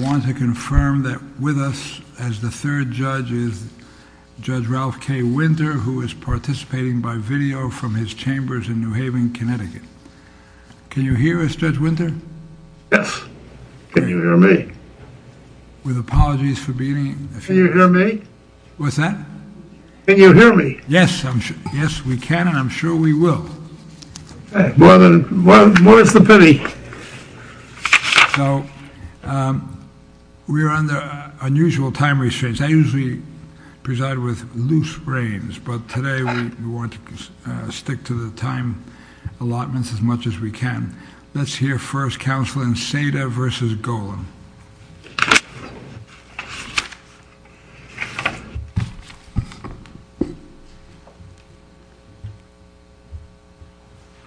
I want to confirm that with us as the third judge is Judge Ralph K. Winter, who is participating by video from his chambers in New Haven, Connecticut. Can you hear us, Judge Winter? Yes. Can you hear me? With apologies for being a few minutes late. Can you hear me? What's that? Can you hear me? Yes, I'm sure. Yes, we can, and I'm sure we will. Okay. Well, then, what is the pity? So, we are under unusual time restraints. I usually preside with loose reigns, but today we want to stick to the time allotments as much as we can. Let's hear first, Counselor, in Saada v. Golan.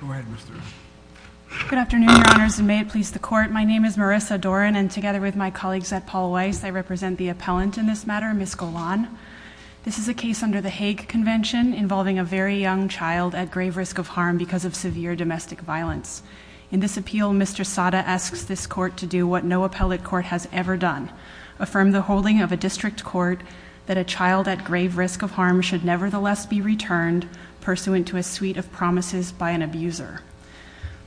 Go ahead, Mr. Wright. Good afternoon, Your Honors, and may it please the Court. My name is Marissa Doran, and together with my colleagues at Paul Weiss, I represent the appellant in this matter, Ms. Golan. This is a case under the Hague Convention involving a very young child at grave risk of harm because of severe domestic violence. In this appeal, Mr. Saada asks this court to do what no appellate court has ever done, affirm the holding of a district court that a child at grave risk of harm should nevertheless be returned, pursuant to a suite of promises by an abuser.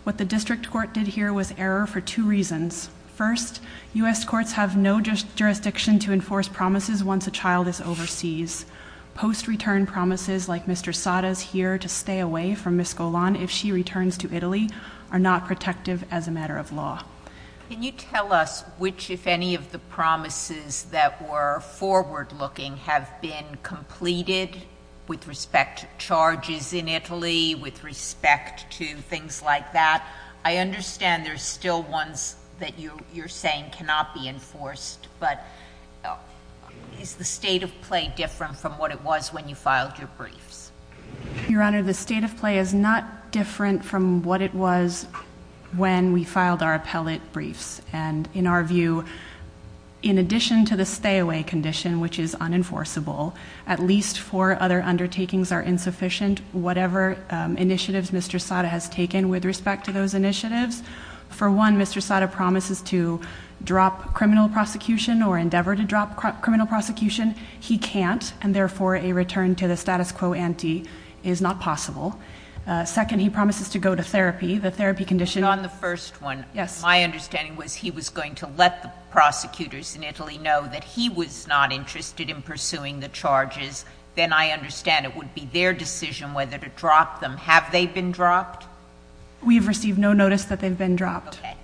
What the district court did here was error for two reasons. First, U.S. courts have no jurisdiction to enforce promises once a child is overseas. Post-return promises, like Mr. Saada's here to stay away from Ms. Golan if she returns to Italy, are not protective as a matter of law. Can you tell us which, if any, of the promises that were forward-looking have been completed, with respect to charges in Italy, with respect to things like that? I understand there are still ones that you're saying cannot be enforced, but is the state of play different from what it was when you filed your briefs? Your Honor, the state of play is not different from what it was when we filed our appellate briefs. And in our view, in addition to the stay away condition, which is unenforceable, at least four other undertakings are insufficient, whatever initiatives Mr. Saada has taken with respect to those initiatives. For one, Mr. Saada promises to drop criminal prosecution or endeavor to drop criminal prosecution. He can't, and therefore a return to the status quo ante is not possible. Second, he promises to go to therapy. The therapy condition- And on the first one- Yes. My understanding was he was going to let the prosecutors in Italy know that he was not interested in pursuing the charges. Then I understand it would be their decision whether to drop them. Have they been dropped? We've received no notice that they've been dropped. Okay.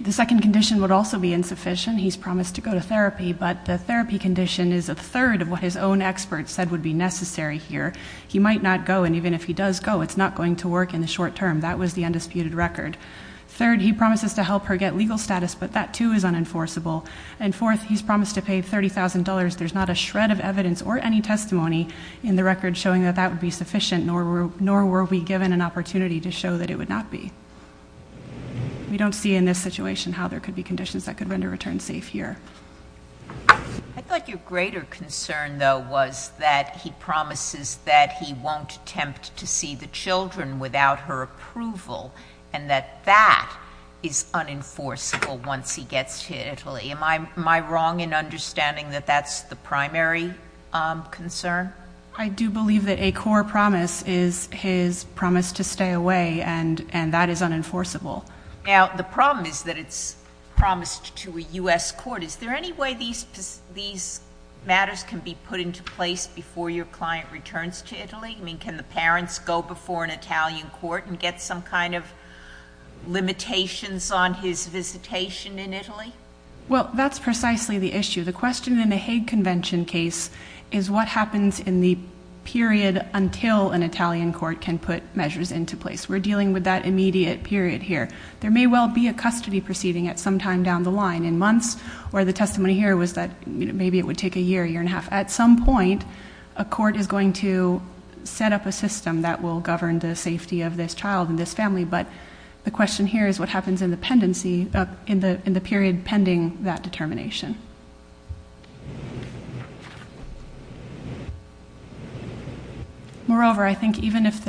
The second condition would also be insufficient. He's promised to go to therapy, but the therapy condition is a third of what his own expert said would be necessary here. He might not go, and even if he does go, it's not going to work in the short term. That was the undisputed record. Third, he promises to help her get legal status, but that too is unenforceable. And fourth, he's promised to pay $30,000. There's not a shred of evidence or any testimony in the record showing that that would be sufficient, nor were we given an opportunity to show that it would not be. We don't see in this situation how there could be conditions that could render a return safe here. I thought your greater concern, though, was that he promises that he won't attempt to see the children without her approval, and that that is unenforceable once he gets to Italy. Am I wrong in understanding that that's the primary concern? I do believe that a core promise is his promise to stay away, and that is unenforceable. Now, the problem is that it's promised to a U.S. court. Is there any way these matters can be put into place before your client returns to Italy? I mean, can the parents go before an Italian court and get some kind of limitations on his visitation in Italy? Well, that's precisely the issue. The question in a Hague Convention case is what happens in the period until an Italian court can put measures into place. We're dealing with that immediate period here. There may well be a custody proceeding at some time down the line, in months, where the testimony here was that maybe it would take a year, year and a half. At some point, a court is going to set up a system that will govern the safety of this child and this family. But the question here is what happens in the period pending that determination. Moreover, I think even if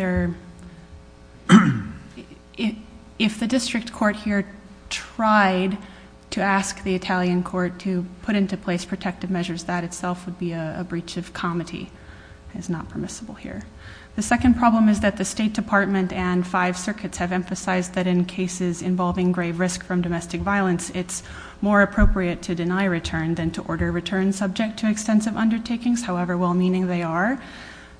the district court here tried to ask the Italian court to put into place protective measures, that itself would be a breach of comity. It's not permissible here. The second problem is that the State Department and five circuits have emphasized that in cases involving grave risk from domestic violence, it's more appropriate to deny a return than to order a return subject to extensive undertakings, however well-meaning they are.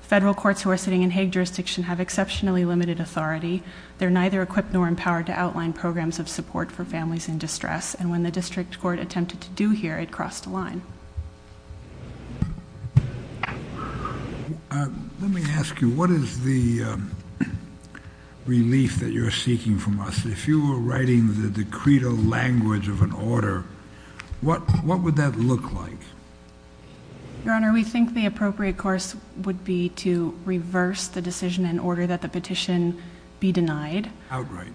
Federal courts who are sitting in Hague jurisdiction have exceptionally limited authority. They're neither equipped nor empowered to outline programs of support for families in distress. And when the district court attempted to do here, it crossed a line. Let me ask you, what is the relief that you're seeking from us? If you were writing the decreto language of an order, what would that look like? Your Honor, we think the appropriate course would be to reverse the decision in order that the petition be denied. Outright,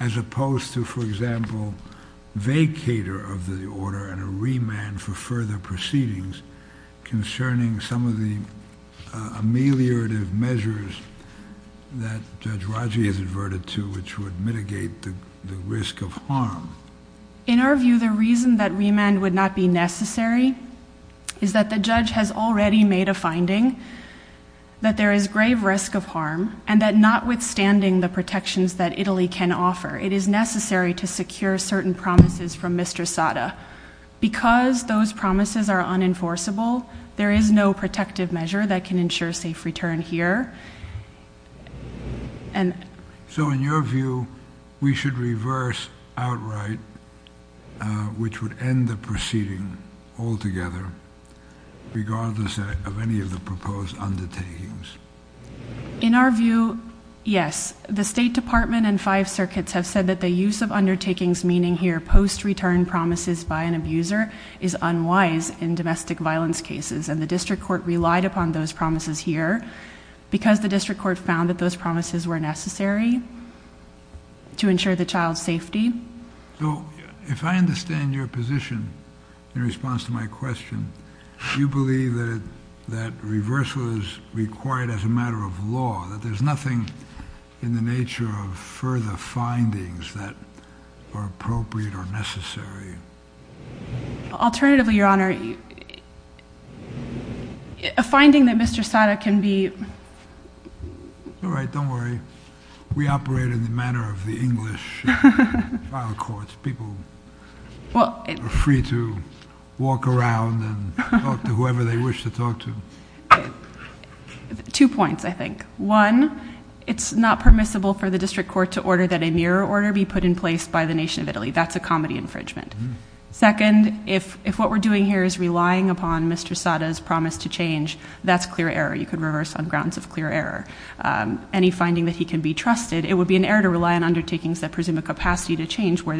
as opposed to, for example, vacator of the order and a remand for further proceedings concerning some of the ameliorative measures that Judge Raji has adverted to which would mitigate the risk of harm. In our view, the reason that remand would not be necessary is that the judge has already made a finding that there is grave risk of harm and that notwithstanding the protections that Italy can offer, it is necessary to secure certain promises from Mr. Sata. Because those promises are unenforceable, there is no protective measure that can ensure safe return here. So in your view, we should reverse outright, which would end the proceeding altogether, regardless of any of the proposed undertakings? In our view, yes. The State Department and five circuits have said that the use of undertakings, meaning here post-return promises by an abuser, is unwise in domestic violence cases. And the district court relied upon those promises here because the district court found that those promises were necessary to ensure the child's safety. So if I understand your position in response to my question, do you believe that reversal is required as a matter of law, that there's nothing in the nature of further findings that are appropriate or necessary? Alternatively, Your Honor, a finding that Mr. Sata can be... All right, don't worry. We operate in the manner of the English trial courts. People are free to walk around and talk to whoever they wish to talk to. Two points, I think. One, it's not permissible for the district court to order that a mirror order be put in place by the nation of Italy. That's a comedy infringement. Second, if what we're doing here is relying upon Mr. Sata's promise to change, that's clear error. You could reverse on grounds of clear error. Any finding that he can be trusted, it would be an error to rely on undertakings that presume a capacity to change, where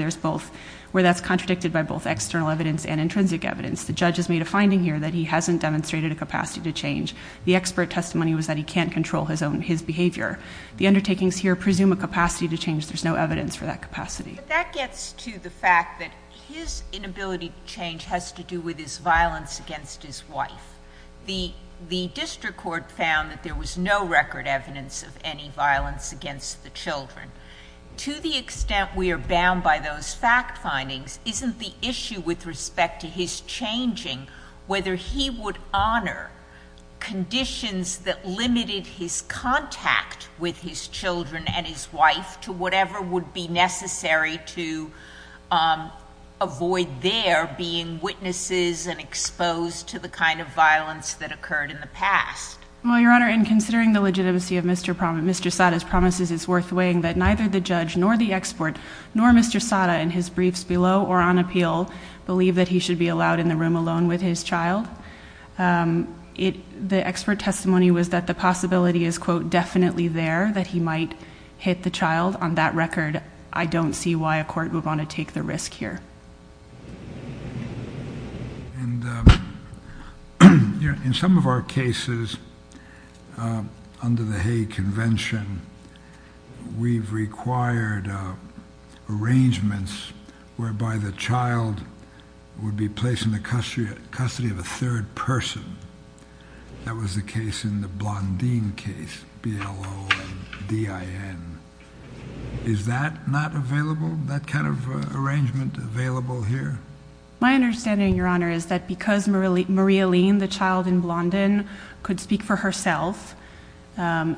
that's contradicted by both external evidence and intrinsic evidence. The judge has made a finding here that he hasn't demonstrated a capacity to change. The expert testimony was that he can't control his behavior. The undertakings here presume a capacity to change. There's no evidence for that capacity. But that gets to the fact that his inability to change has to do with his violence against his wife. The district court found that there was no record evidence of any violence against the children. To the extent we are bound by those fact findings, isn't the issue with respect to his changing whether he would honor conditions that limited his contact with his children and his wife to whatever would be necessary to avoid there being witnesses and exposed to the kind of violence that occurred in the past? Well, Your Honor, in considering the legitimacy of Mr. Sata's promises, it's worth weighing that neither the judge nor the expert nor Mr. Sata in his briefs below or on appeal believe that he should be allowed in the room alone with his child. The expert testimony was that the possibility is, quote, definitely there that he might hit the child. On that record, I don't see why a court would want to take the risk here. In some of our cases under the Hague Convention, we've required arrangements whereby the child would be placed in the custody of a third person. That was the case in the Blondin case, B-L-O-N-D-I-N. Is that not available, that kind of arrangement available here? My understanding, Your Honor, is that because Marie-Helene, the child in Blondin, could speak for herself,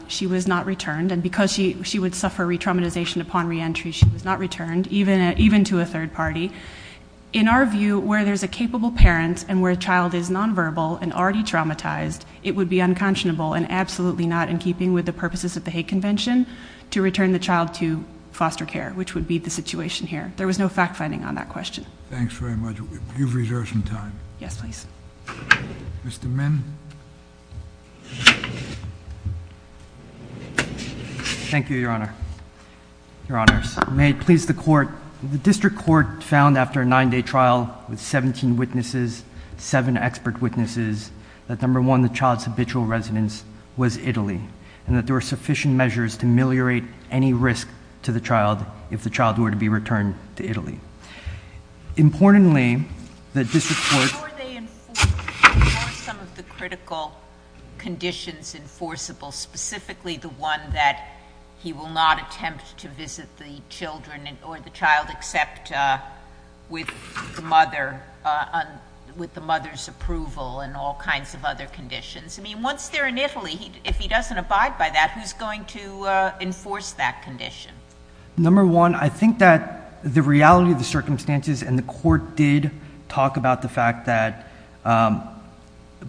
she was not returned, and because she would suffer re-traumatization upon re-entry, she was not returned, even to a third party. In our view, where there's a capable parent and where a child is nonverbal and already traumatized, it would be unconscionable and absolutely not in keeping with the purposes of the Hague Convention to return the child to foster care, which would be the situation here. There was no fact-finding on that question. Thanks very much. You've reserved some time. Yes, please. Mr. Min. Thank you, Your Honor. Your Honors, may it please the Court. The District Court found after a nine-day trial with 17 witnesses, 7 expert witnesses, that number one, the child's habitual residence was Italy, and that there were sufficient measures to ameliorate any risk to the child if the child were to be returned to Italy. Importantly, the District Court— How are they enforced? What are some of the critical conditions enforceable, specifically the one that he will not attempt to visit the children or the child except with the mother's approval and all kinds of other conditions? I mean, once they're in Italy, if he doesn't abide by that, who's going to enforce that condition? Number one, I think that the reality of the circumstances, and the Court did talk about the fact that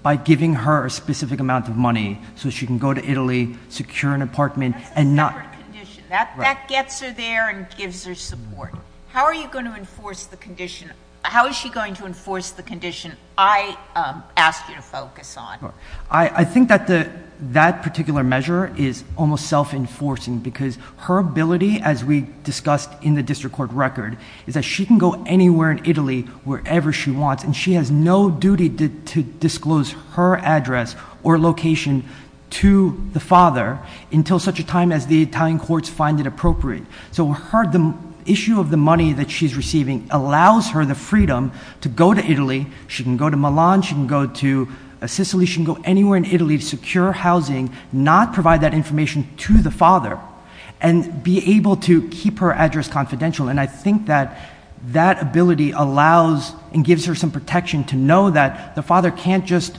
by giving her a specific amount of money so she can go to Italy, secure an apartment, and not— That's a separate condition. That gets her there and gives her support. How are you going to enforce the condition? How is she going to enforce the condition I asked you to focus on? I think that that particular measure is almost self-enforcing because her ability, as we discussed in the District Court record, is that she can go anywhere in Italy, wherever she wants, and she has no duty to disclose her address or location to the father until such a time as the Italian courts find it appropriate. So the issue of the money that she's receiving allows her the freedom to go to Italy. She can go anywhere in Italy to secure housing, not provide that information to the father, and be able to keep her address confidential. And I think that that ability allows and gives her some protection to know that the father can't just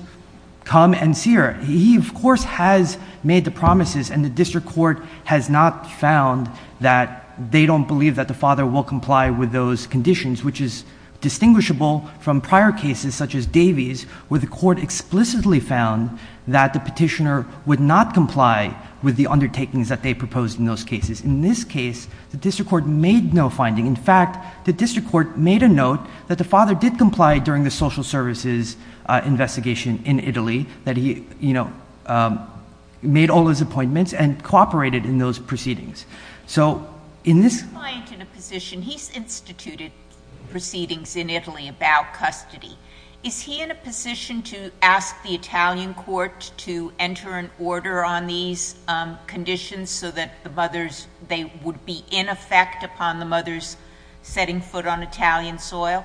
come and see her. He, of course, has made the promises, and the District Court has not found that they don't believe that the father will comply with those conditions, which is distinguishable from prior cases such as Davey's, where the court explicitly found that the petitioner would not comply with the undertakings that they proposed in those cases. In this case, the District Court made no finding. In fact, the District Court made a note that the father did comply during the social services investigation in Italy, that he made all his appointments and cooperated in those proceedings. So in this— He's a client in a position. He's instituted proceedings in Italy about custody. Is he in a position to ask the Italian court to enter an order on these conditions so that they would be in effect upon the mother's setting foot on Italian soil?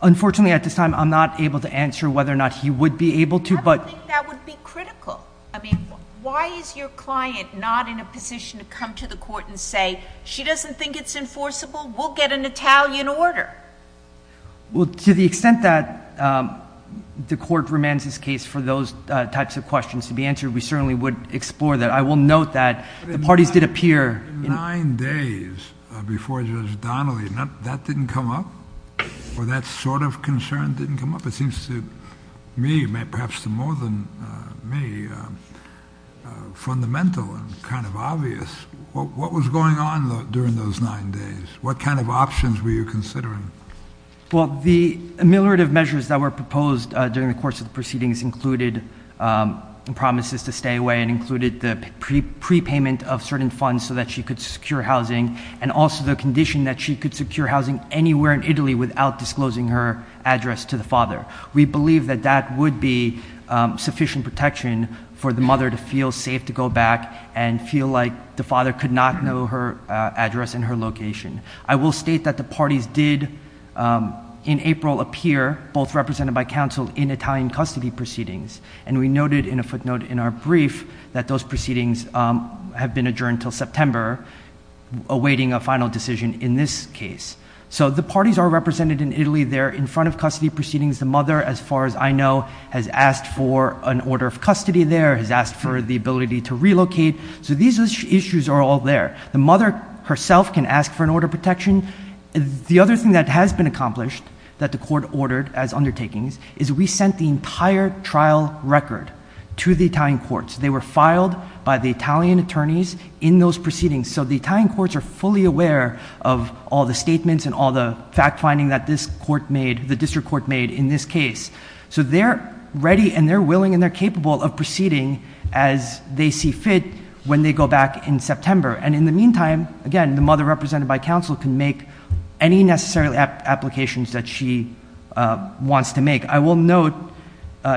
Unfortunately, at this time, I'm not able to answer whether or not he would be able to, but— I don't think that would be critical. I mean, why is your client not in a position to come to the court and say, she doesn't think it's enforceable, we'll get an Italian order? Well, to the extent that the court remains his case for those types of questions to be answered, we certainly would explore that. I will note that the parties did appear— Nine days before Judge Donnelly, that didn't come up? Or that sort of concern didn't come up? It seems to me, perhaps to more than me, fundamental and kind of obvious. What was going on during those nine days? What kind of options were you considering? Well, the ameliorative measures that were proposed during the course of the proceedings included promises to stay away and included the prepayment of certain funds so that she could secure housing and also the condition that she could secure housing anywhere in Italy without disclosing her address to the father. We believe that that would be sufficient protection for the mother to feel safe to go back and feel like the father could not know her address and her location. I will state that the parties did, in April, appear, both represented by counsel, in Italian custody proceedings. And we noted in a footnote in our brief that those proceedings have been adjourned until September, awaiting a final decision in this case. So the parties are represented in Italy. They're in front of custody proceedings. The mother, as far as I know, has asked for an order of custody there, has asked for the ability to relocate. So these issues are all there. The mother herself can ask for an order of protection. The other thing that has been accomplished, that the court ordered as undertakings, is we sent the entire trial record to the Italian courts. They were filed by the Italian attorneys in those proceedings. So the Italian courts are fully aware of all the statements and all the fact-finding that this court made, the district court made in this case. So they're ready and they're willing and they're capable of proceeding as they see fit when they go back in September. And in the meantime, again, the mother, represented by counsel, can make any necessary applications that she wants to make. I will note,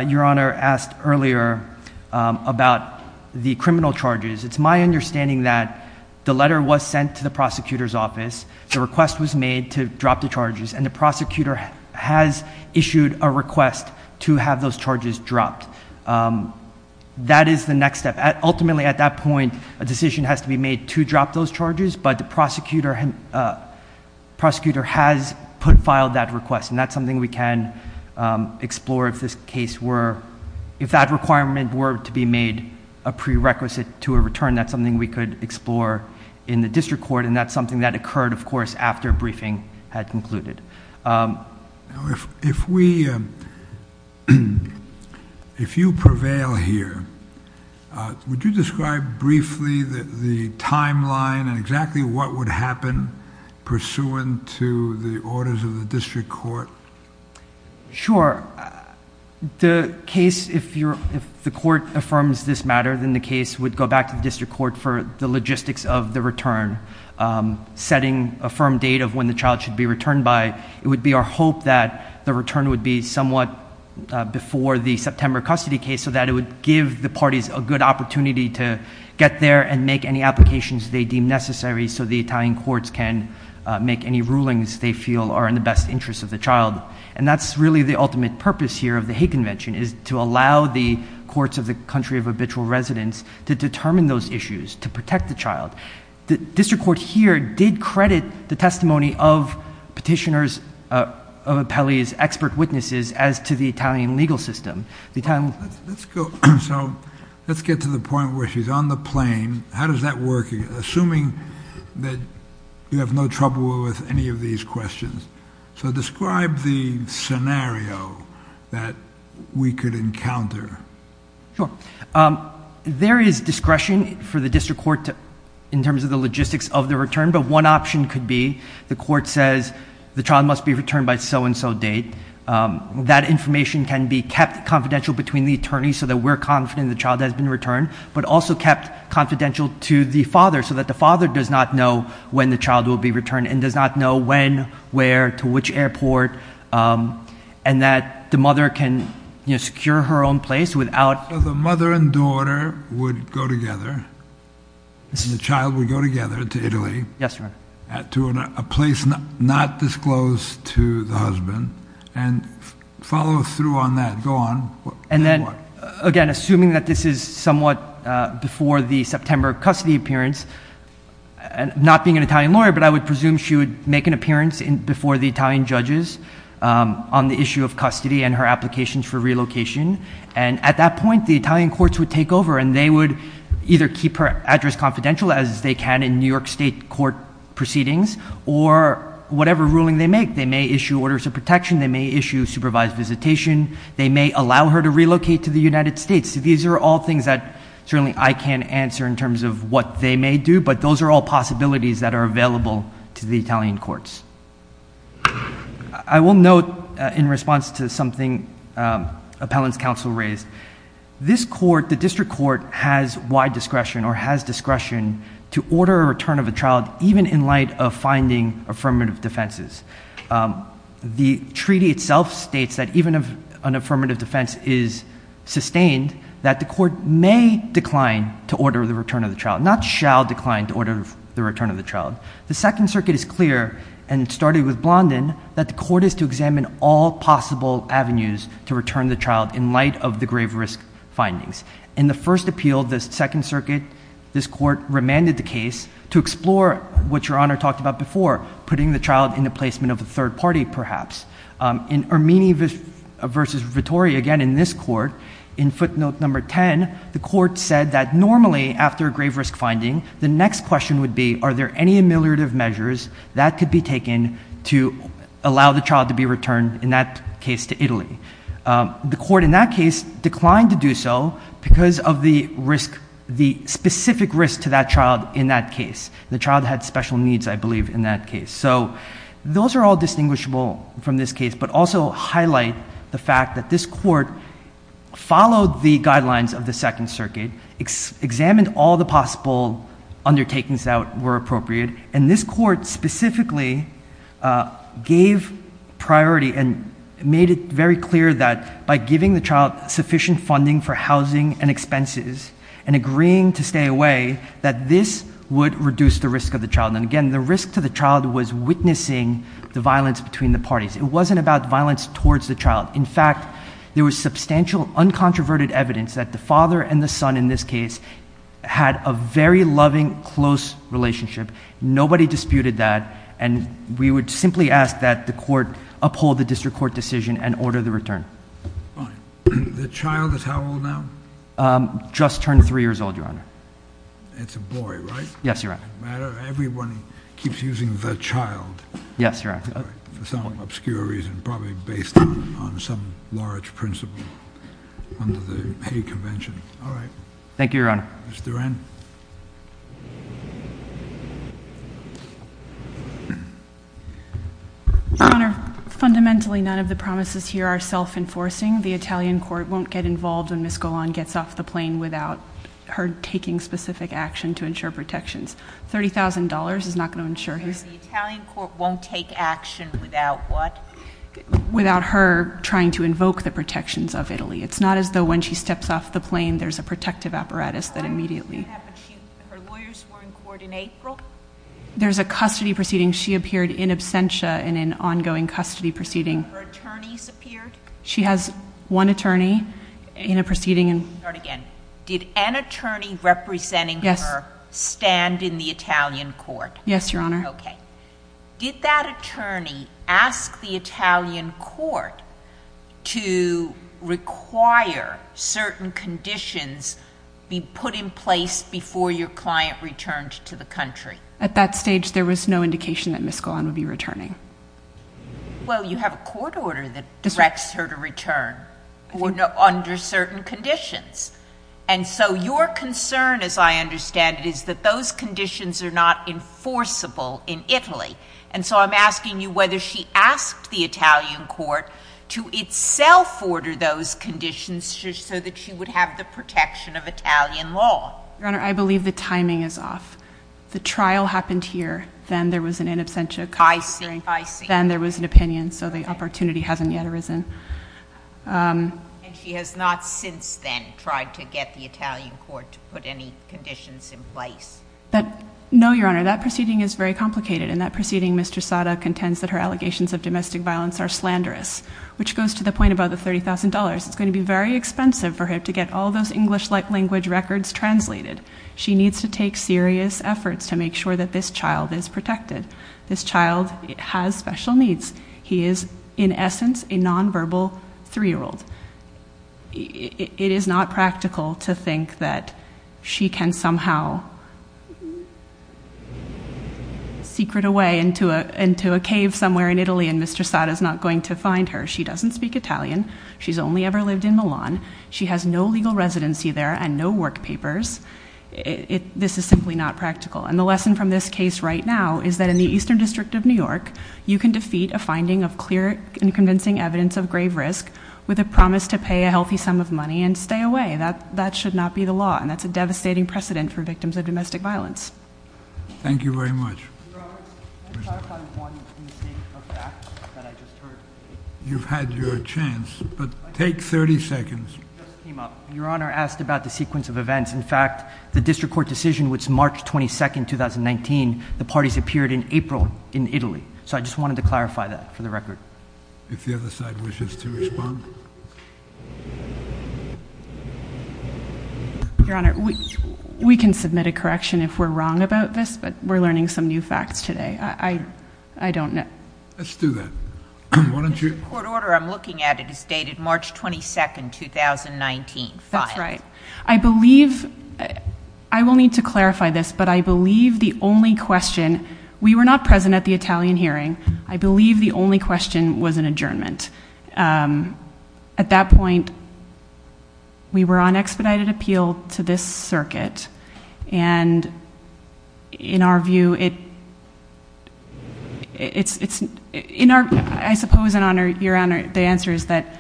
Your Honor asked earlier about the criminal charges. It's my understanding that the letter was sent to the prosecutor's office, the request was made to drop the charges, and the prosecutor has issued a request to have those charges dropped. That is the next step. Ultimately, at that point, a decision has to be made to drop those charges, but the prosecutor has filed that request, and that's something we can explore if that requirement were to be made a prerequisite to a return. That's something we could explore in the district court, and that's something that occurred, of course, after briefing had concluded. If you prevail here, would you describe briefly the timeline and exactly what would happen pursuant to the orders of the district court? Sure. The case, if the court affirms this matter, then the case would go back to the district court for the logistics of the return, setting a firm date of when the child should be returned by. It would be our hope that the return would be somewhat before the September custody case so that it would give the parties a good opportunity to get there and make any applications they deem necessary so the Italian courts can make any rulings they feel are in the best interest of the child. And that's really the ultimate purpose here of the Hague Convention is to allow the courts of the country of habitual residence to determine those issues, to protect the child. The district court here did credit the testimony of petitioners, of appellees, expert witnesses, as to the Italian legal system. Let's get to the point where she's on the plane. How does that work, assuming that you have no trouble with any of these questions? So describe the scenario that we could encounter. Sure. There is discretion for the district court in terms of the logistics of the return, but one option could be the court says the child must be returned by so-and-so date. That information can be kept confidential between the attorneys so that we're confident the child has been returned, but also kept confidential to the father so that the father does not know when the child will be returned and does not know when, where, to which airport, and that the mother can secure her own place without. So the mother and daughter would go together, and the child would go together to Italy. Yes, Your Honor. To a place not disclosed to the husband, and follow through on that. Go on. And then, again, assuming that this is somewhat before the September custody appearance, not being an Italian lawyer, but I would presume she would make an appearance before the Italian judges on the issue of custody and her applications for relocation. And at that point, the Italian courts would take over, and they would either keep her address confidential, as they can in New York State court proceedings, or whatever ruling they make. They may issue orders of protection. They may issue supervised visitation. They may allow her to relocate to the United States. These are all things that certainly I can't answer in terms of what they may do, but those are all possibilities that are available to the Italian courts. I will note, in response to something Appellant's counsel raised, this court, the district court, has wide discretion or has discretion to order a return of a child, even in light of finding affirmative defenses. The treaty itself states that even if an affirmative defense is sustained, that the court may decline to order the return of the child, not shall decline to order the return of the child. The Second Circuit is clear, and it started with Blondin, that the court is to examine all possible avenues to return the child in light of the grave risk findings. In the first appeal, the Second Circuit, this court, remanded the case to explore what Your Honor talked about before, putting the child in the placement of a third party, perhaps. In Ermini v. Vittori, again, in this court, in footnote number 10, the court said that normally, after a grave risk finding, the next question would be, are there any ameliorative measures that could be taken to allow the child to be returned, in that case, to Italy? The court, in that case, declined to do so because of the specific risk to that child in that case. The child had special needs, I believe, in that case. So those are all distinguishable from this case, but also highlight the fact that this court followed the guidelines of the Second Circuit, examined all the possible undertakings that were appropriate, and this court specifically gave priority and made it very clear that by giving the child sufficient funding for housing and expenses and agreeing to stay away, that this would reduce the risk of the child. And again, the risk to the child was witnessing the violence between the parties. It wasn't about violence towards the child. In fact, there was substantial, uncontroverted evidence that the father and the son, in this case, had a very loving, close relationship. Nobody disputed that, and we would simply ask that the court uphold the district court decision and order the return. The child is how old now? Just turned three years old, Your Honor. It's a boy, right? Yes, Your Honor. It doesn't matter. Everyone keeps using the child. Yes, Your Honor. For some obscure reason, probably based on some large principle under the Hay Convention. All right. Thank you, Your Honor. Ms. Duran. Your Honor, fundamentally, none of the promises here are self-enforcing. The Italian court won't get involved when Ms. Golan gets off the plane without her taking specific action to ensure protections. $30,000 is not going to ensure his... The Italian court won't take action without what? Without her trying to invoke the protections of Italy. It's not as though when she steps off the plane, there's a protective apparatus that immediately... Her lawyers were in court in April. There's a custody proceeding. She appeared in absentia in an ongoing custody proceeding. Her attorneys appeared. She has one attorney in a proceeding. Let me start again. Did an attorney representing her stand in the Italian court? Yes, Your Honor. Okay. Did that attorney ask the Italian court to require certain conditions be put in place before your client returned to the country? At that stage, there was no indication that Ms. Golan would be returning. Well, you have a court order that directs her to return under certain conditions. And so your concern, as I understand it, is that those conditions are not enforceable in Italy. And so I'm asking you whether she asked the Italian court to itself order those conditions so that she would have the protection of Italian law. Your Honor, I believe the timing is off. The trial happened here. Then there was an in absentia... I see. I see. Then there was an opinion. So the opportunity hasn't yet arisen. And she has not since then tried to get the Italian court to put any conditions in place? No, Your Honor. That proceeding is very complicated. In that proceeding, Mr. Sada contends that her allegations of domestic violence are slanderous, which goes to the point about the $30,000. It's going to be very expensive for her to get all those English-like language records translated. She needs to take serious efforts to make sure that this child is protected. This child has special needs. He is, in essence, a nonverbal 3-year-old. It is not practical to think that she can somehow secret away into a cave somewhere in Italy and Mr. Sada is not going to find her. She doesn't speak Italian. She's only ever lived in Milan. She has no legal residency there and no work papers. This is simply not practical. And the lesson from this case right now is that in the Eastern District of New York, you can defeat a finding of clear and convincing evidence of grave risk with a promise to pay a healthy sum of money and stay away. That should not be the law. And that's a devastating precedent for victims of domestic violence. Thank you very much. Mr. Roberts, can I clarify one mistake of fact that I just heard? You've had your chance, but take 30 seconds. It just came up. Your Honor asked about the sequence of events. In fact, the district court decision was March 22, 2019. The parties appeared in April in Italy. So I just wanted to clarify that for the record. If the other side wishes to respond. Your Honor, we can submit a correction if we're wrong about this, but we're learning some new facts today. I don't know. Let's do that. The court order I'm looking at is dated March 22, 2019. That's right. I believe I will need to clarify this, but I believe the only question, we were not present at the Italian hearing. I believe the only question was an adjournment. At that point, we were on expedited appeal to this circuit. And in our view, it's in our, I suppose, Your Honor, the answer is that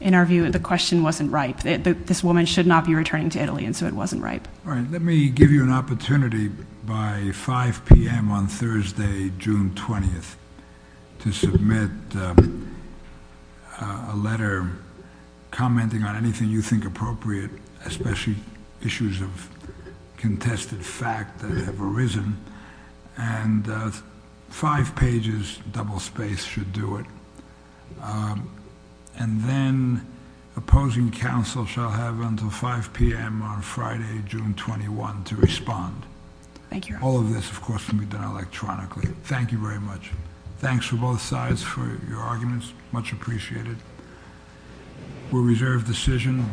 in our view, the question wasn't right. This woman should not be returning to Italy, and so it wasn't right. All right. Let me give you an opportunity by 5 p.m. on Thursday, June 20th, to submit a letter commenting on anything you think appropriate, especially issues of contested fact that have arisen. And five pages, double spaced, should do it. And then opposing counsel shall have until 5 p.m. on Friday, June 21, to respond. Thank you, Your Honor. All of this, of course, can be done electronically. Thank you very much. Thanks to both sides for your arguments. Much appreciated. We'll reserve decision.